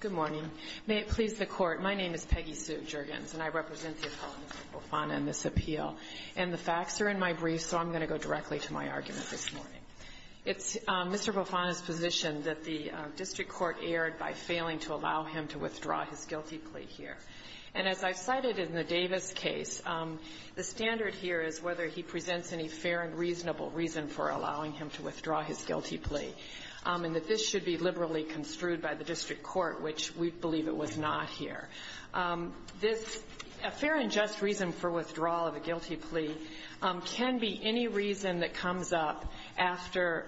Good morning. May it please the Court, my name is Peggy Sue Juergens and I represent the appellants of Fofana in this appeal. And the facts are in my brief, so I'm going to go directly to my argument this morning. It's Mr. Fofana's position that the district court erred by failing to allow him to withdraw his guilty plea here. And as I cited in the Davis case, the standard here is whether he presents any fair and reasonable reason for allowing him to withdraw his guilty plea, and that this should be liberally construed by the district court, which we believe it was not here. This fair and just reason for withdrawal of a guilty plea can be any reason that comes up after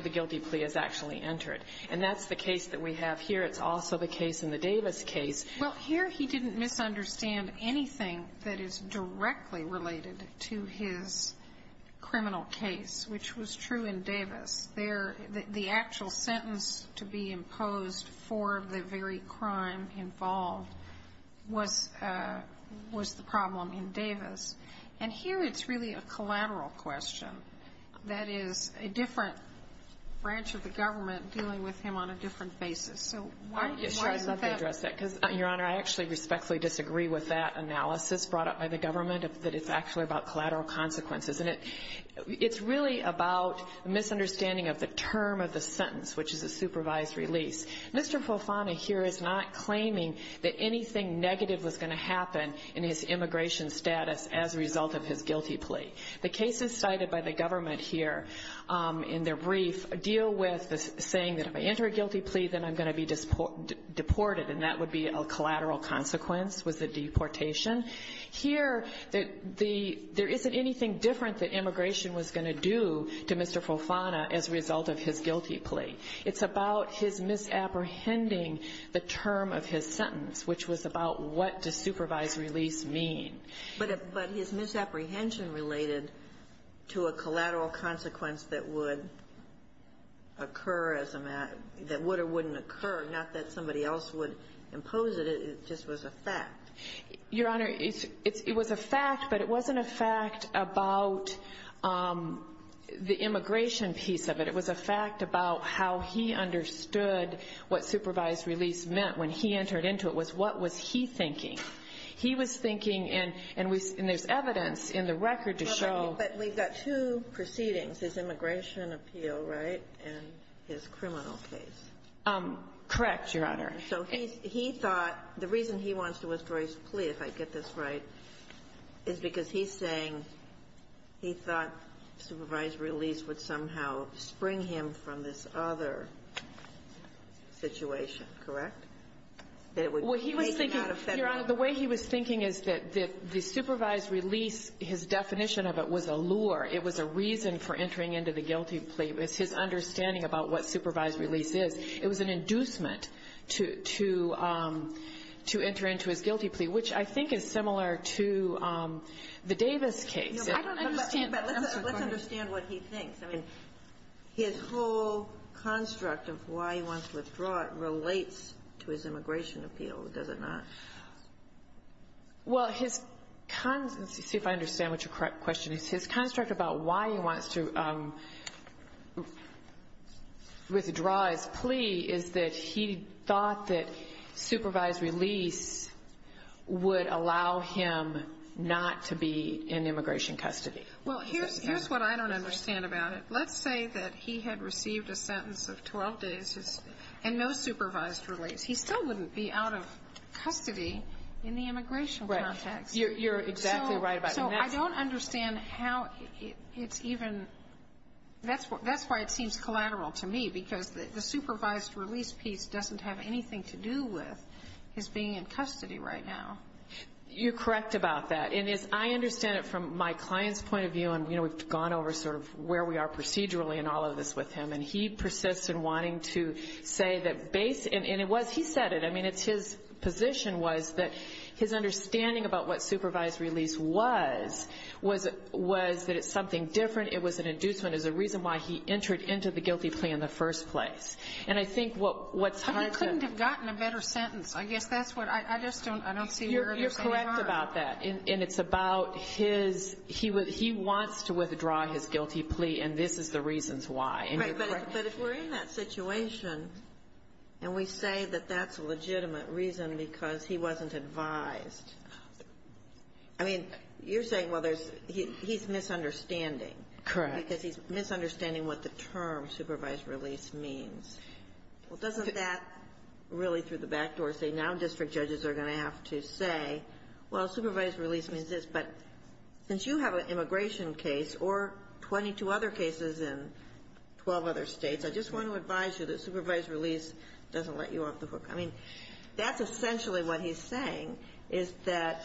the guilty plea is actually entered. And that's the case that we have here. It's also the case in the Davis case. Well, here he didn't misunderstand anything that is directly related to his criminal case, which was true in Davis. The actual sentence to be imposed for the very crime involved was the problem in Davis. And here it's really a collateral question. That is, a different branch of the government dealing with him on a different basis. So why is that? I'm just trying to address that, because, Your Honor, I actually respectfully disagree with that analysis brought up by the government, that it's actually about the sentence, which is a supervised release. Mr. Folfana here is not claiming that anything negative was going to happen in his immigration status as a result of his guilty plea. The cases cited by the government here, in their brief, deal with the saying that if I enter a guilty plea, then I'm going to be deported, and that would be a collateral consequence, was the deportation. Here, there isn't anything different that immigration was going to do to Mr. Folfana as a result of his guilty plea. It's about his misapprehending the term of his sentence, which was about what does supervised release mean. But his misapprehension related to a collateral consequence that would occur as a matter of that would or wouldn't occur, not that somebody else would impose it. It just was a fact. Your Honor, it was a fact, but it wasn't a fact about the immigration piece of it. It was a fact about how he understood what supervised release meant when he entered into it, was what was he thinking. He was thinking, and there's evidence in the record to show But we've got two proceedings, his immigration appeal, right, and his criminal case. Correct, Your Honor. So he thought, the reason he wants to withdraw his plea, if I get this right, is because he's saying he thought supervised release would somehow spring him from this other situation, correct? That it would make him out of federal law. Well, he was thinking, Your Honor, the way he was thinking is that the supervised release, his definition of it was a lure. It was a reason for entering into the guilty plea. It was his understanding about what supervised release is. It was an inducement to enter into his guilty plea, which I think is similar to the Davis case. I don't understand. Let's understand what he thinks. I mean, his whole construct of why he wants to withdraw it relates to his immigration appeal, does it not? Well, his con see if I understand what your question is. His construct about why he wants to withdraw his plea is that he thought that supervised release would allow him not to be in immigration custody. Well, here's what I don't understand about it. Let's say that he had received a sentence of 12 days and no supervised release. He still wouldn't be out of custody in the immigration context. Right. You're exactly right about that. So I don't understand how it's even, that's why it seems collateral to me, because the supervised release piece doesn't have anything to do with his being in custody right now. You're correct about that. And as I understand it from my client's point of view, and we've gone over sort of where we are procedurally in all of this with him, and he persists in wanting to say that base, and it was, he said it, I mean, it's his position was that his reason was that it's something different, it was an inducement, is a reason why he entered into the guilty plea in the first place. And I think what's hard to... But he couldn't have gotten a better sentence. I guess that's what, I just don't, I don't see where there's any harm. You're correct about that. And it's about his, he wants to withdraw his guilty plea, and this is the reasons why. Right, but if we're in that situation, and we say that that's a legitimate reason because he wasn't advised, I mean, you're saying, well, there's, he's misunderstanding. Correct. Because he's misunderstanding what the term supervised release means. Well, doesn't that really through the back door say now district judges are going to have to say, well, supervised release means this, but since you have an immigration case or 22 other cases in 12 other States, I just want to advise you that supervised release doesn't let you off the hook. I mean, that's essentially what he's saying, is that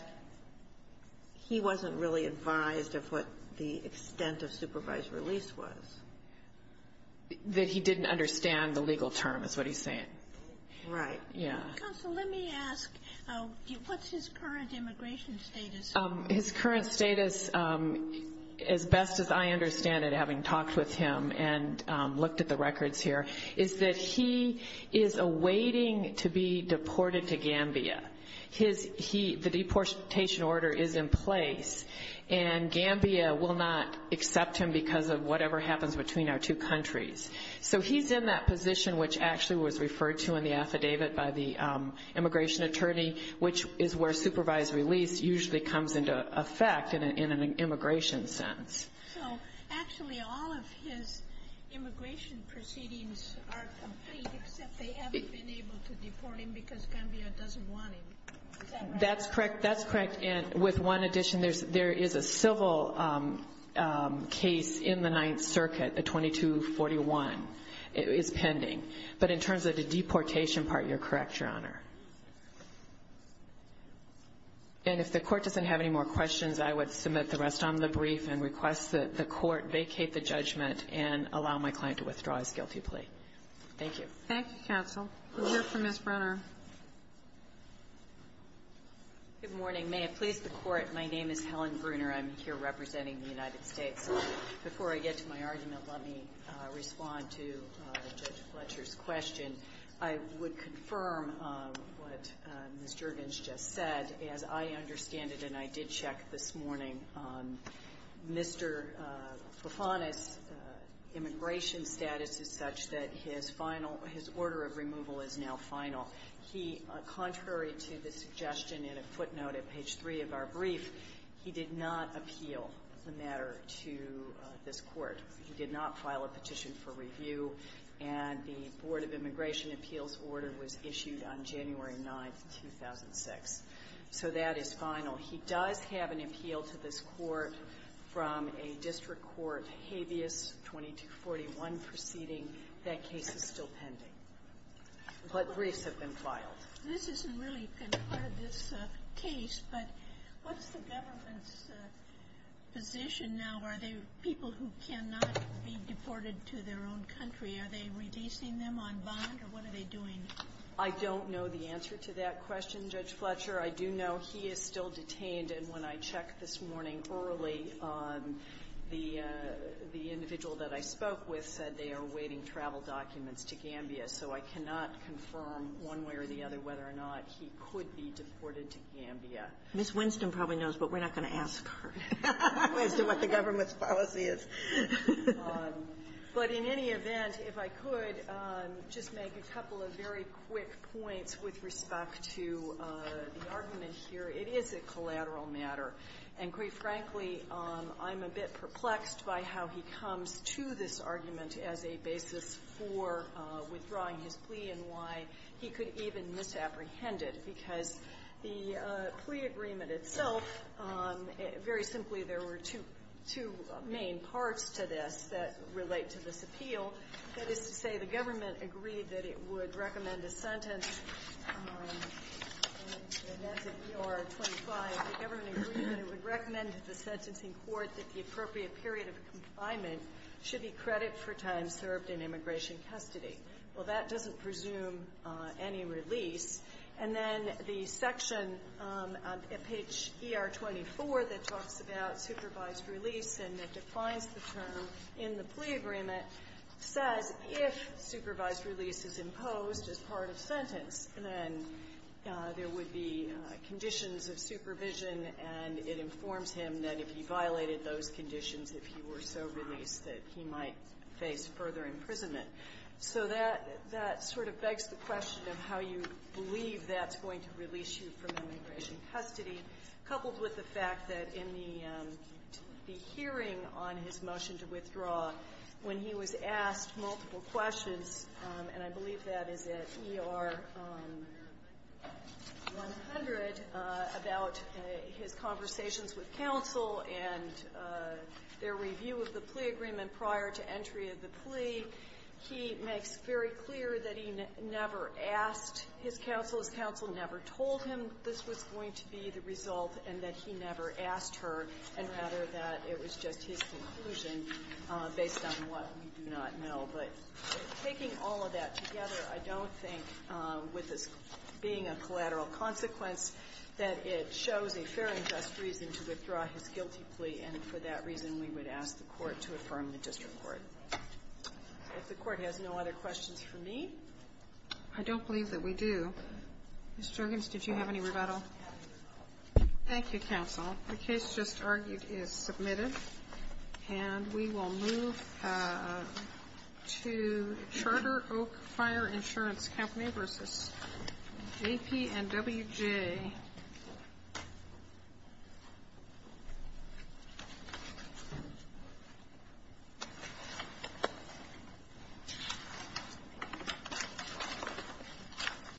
he wasn't really advised of what the extent of supervised release was. That he didn't understand the legal term is what he's saying. Right. Yeah. Counsel, let me ask, what's his current immigration status? His current status, as best as I understand it, having talked with him and looked at the waiting to be deported to Gambia. His, he, the deportation order is in place, and Gambia will not accept him because of whatever happens between our two countries. So he's in that position, which actually was referred to in the affidavit by the immigration attorney, which is where supervised release usually comes into effect in an immigration sense. So actually all of his immigration proceedings are complete, except they haven't been able to deport him because Gambia doesn't want him. Is that right? That's correct. That's correct. And with one addition, there's, there is a civil case in the Ninth Circuit, a 2241. It is pending. But in terms of the deportation part, you're correct, Your Honor. And if the court doesn't have any more questions, I would submit the brief and request that the court vacate the judgment and allow my client to withdraw his guilty plea. Thank you. Thank you, counsel. We'll hear from Ms. Brunner. Good morning. May it please the court, my name is Helen Brunner. I'm here representing the United States. Before I get to my argument, let me respond to Judge Fletcher's question. I would confirm what Ms. Juergens just said. As I understand it, and I did check this morning, Mr. Profanus' immigration status is such that his final, his order of removal is now final. He, contrary to the suggestion in a footnote at page 3 of our brief, he did not appeal the matter to this Court. He did not file a petition for review, and the Board of Immigration Appeals order was issued on January 9th, 2006. So that is final. He does have an appeal to this Court from a district court habeas 2241 proceeding. That case is still pending. But briefs have been filed. This isn't really been part of this case, but what's the government's position now? Are they people who cannot be deported to their own country? Are they releasing them on bond, or what are they doing? I don't know the answer to that question, Judge Fletcher. I do know he is still detained, and when I checked this morning early, the individual that I spoke with said they are awaiting travel documents to Gambia. So I cannot confirm one way or the other whether or not he could be deported to Gambia. Ms. Winston probably knows, but we're not going to ask her as to what the government's policy is. But in any event, if I could just make a couple of very quick points with respect to the argument here, it is a collateral matter. And quite frankly, I'm a bit perplexed by how he comes to this argument as a basis for withdrawing his plea and why he could even misapprehend it, because the plea agreement itself, very simply, there were two main parts to this that relate to this appeal. That is to say, the government agreed that it would recommend a sentence. And that's in ER 25. The government agreed that it would recommend to the sentencing court that the appropriate period of confinement should be credit for time served in immigration custody. Well, that doesn't presume any release. And then the section, page ER 24, that talks about supervised release and that defines the term in the plea agreement, says if supervised release is imposed as part of sentence, then there would be conditions of supervision, and it informs him that if he violated those conditions, if he were so released, that he might face further imprisonment. So that sort of begs the question of how you believe that's going to release you from immigration custody, coupled with the fact that in the hearing on his motion to withdraw, when he was asked multiple questions, and I believe that is at ER 100, about his conversations with counsel and their review of the plea agreement prior to entry of the plea, he makes very clear that he never asked his counsel. His counsel never told him this was going to be the result and that he never asked her, and rather that it was just his conclusion based on what we do not know. But taking all of that together, I don't think, with this being a collateral consequence, that it shows a fair and just reason to withdraw his guilty plea. And for that reason, we would ask the Court to affirm the district court. If the Court has no other questions for me. I don't believe that we do. Ms. Jergens, did you have any rebuttal? Thank you, counsel. The case just argued is submitted. And we will move to Charter Oak Fire Insurance Company versus JP and WJ.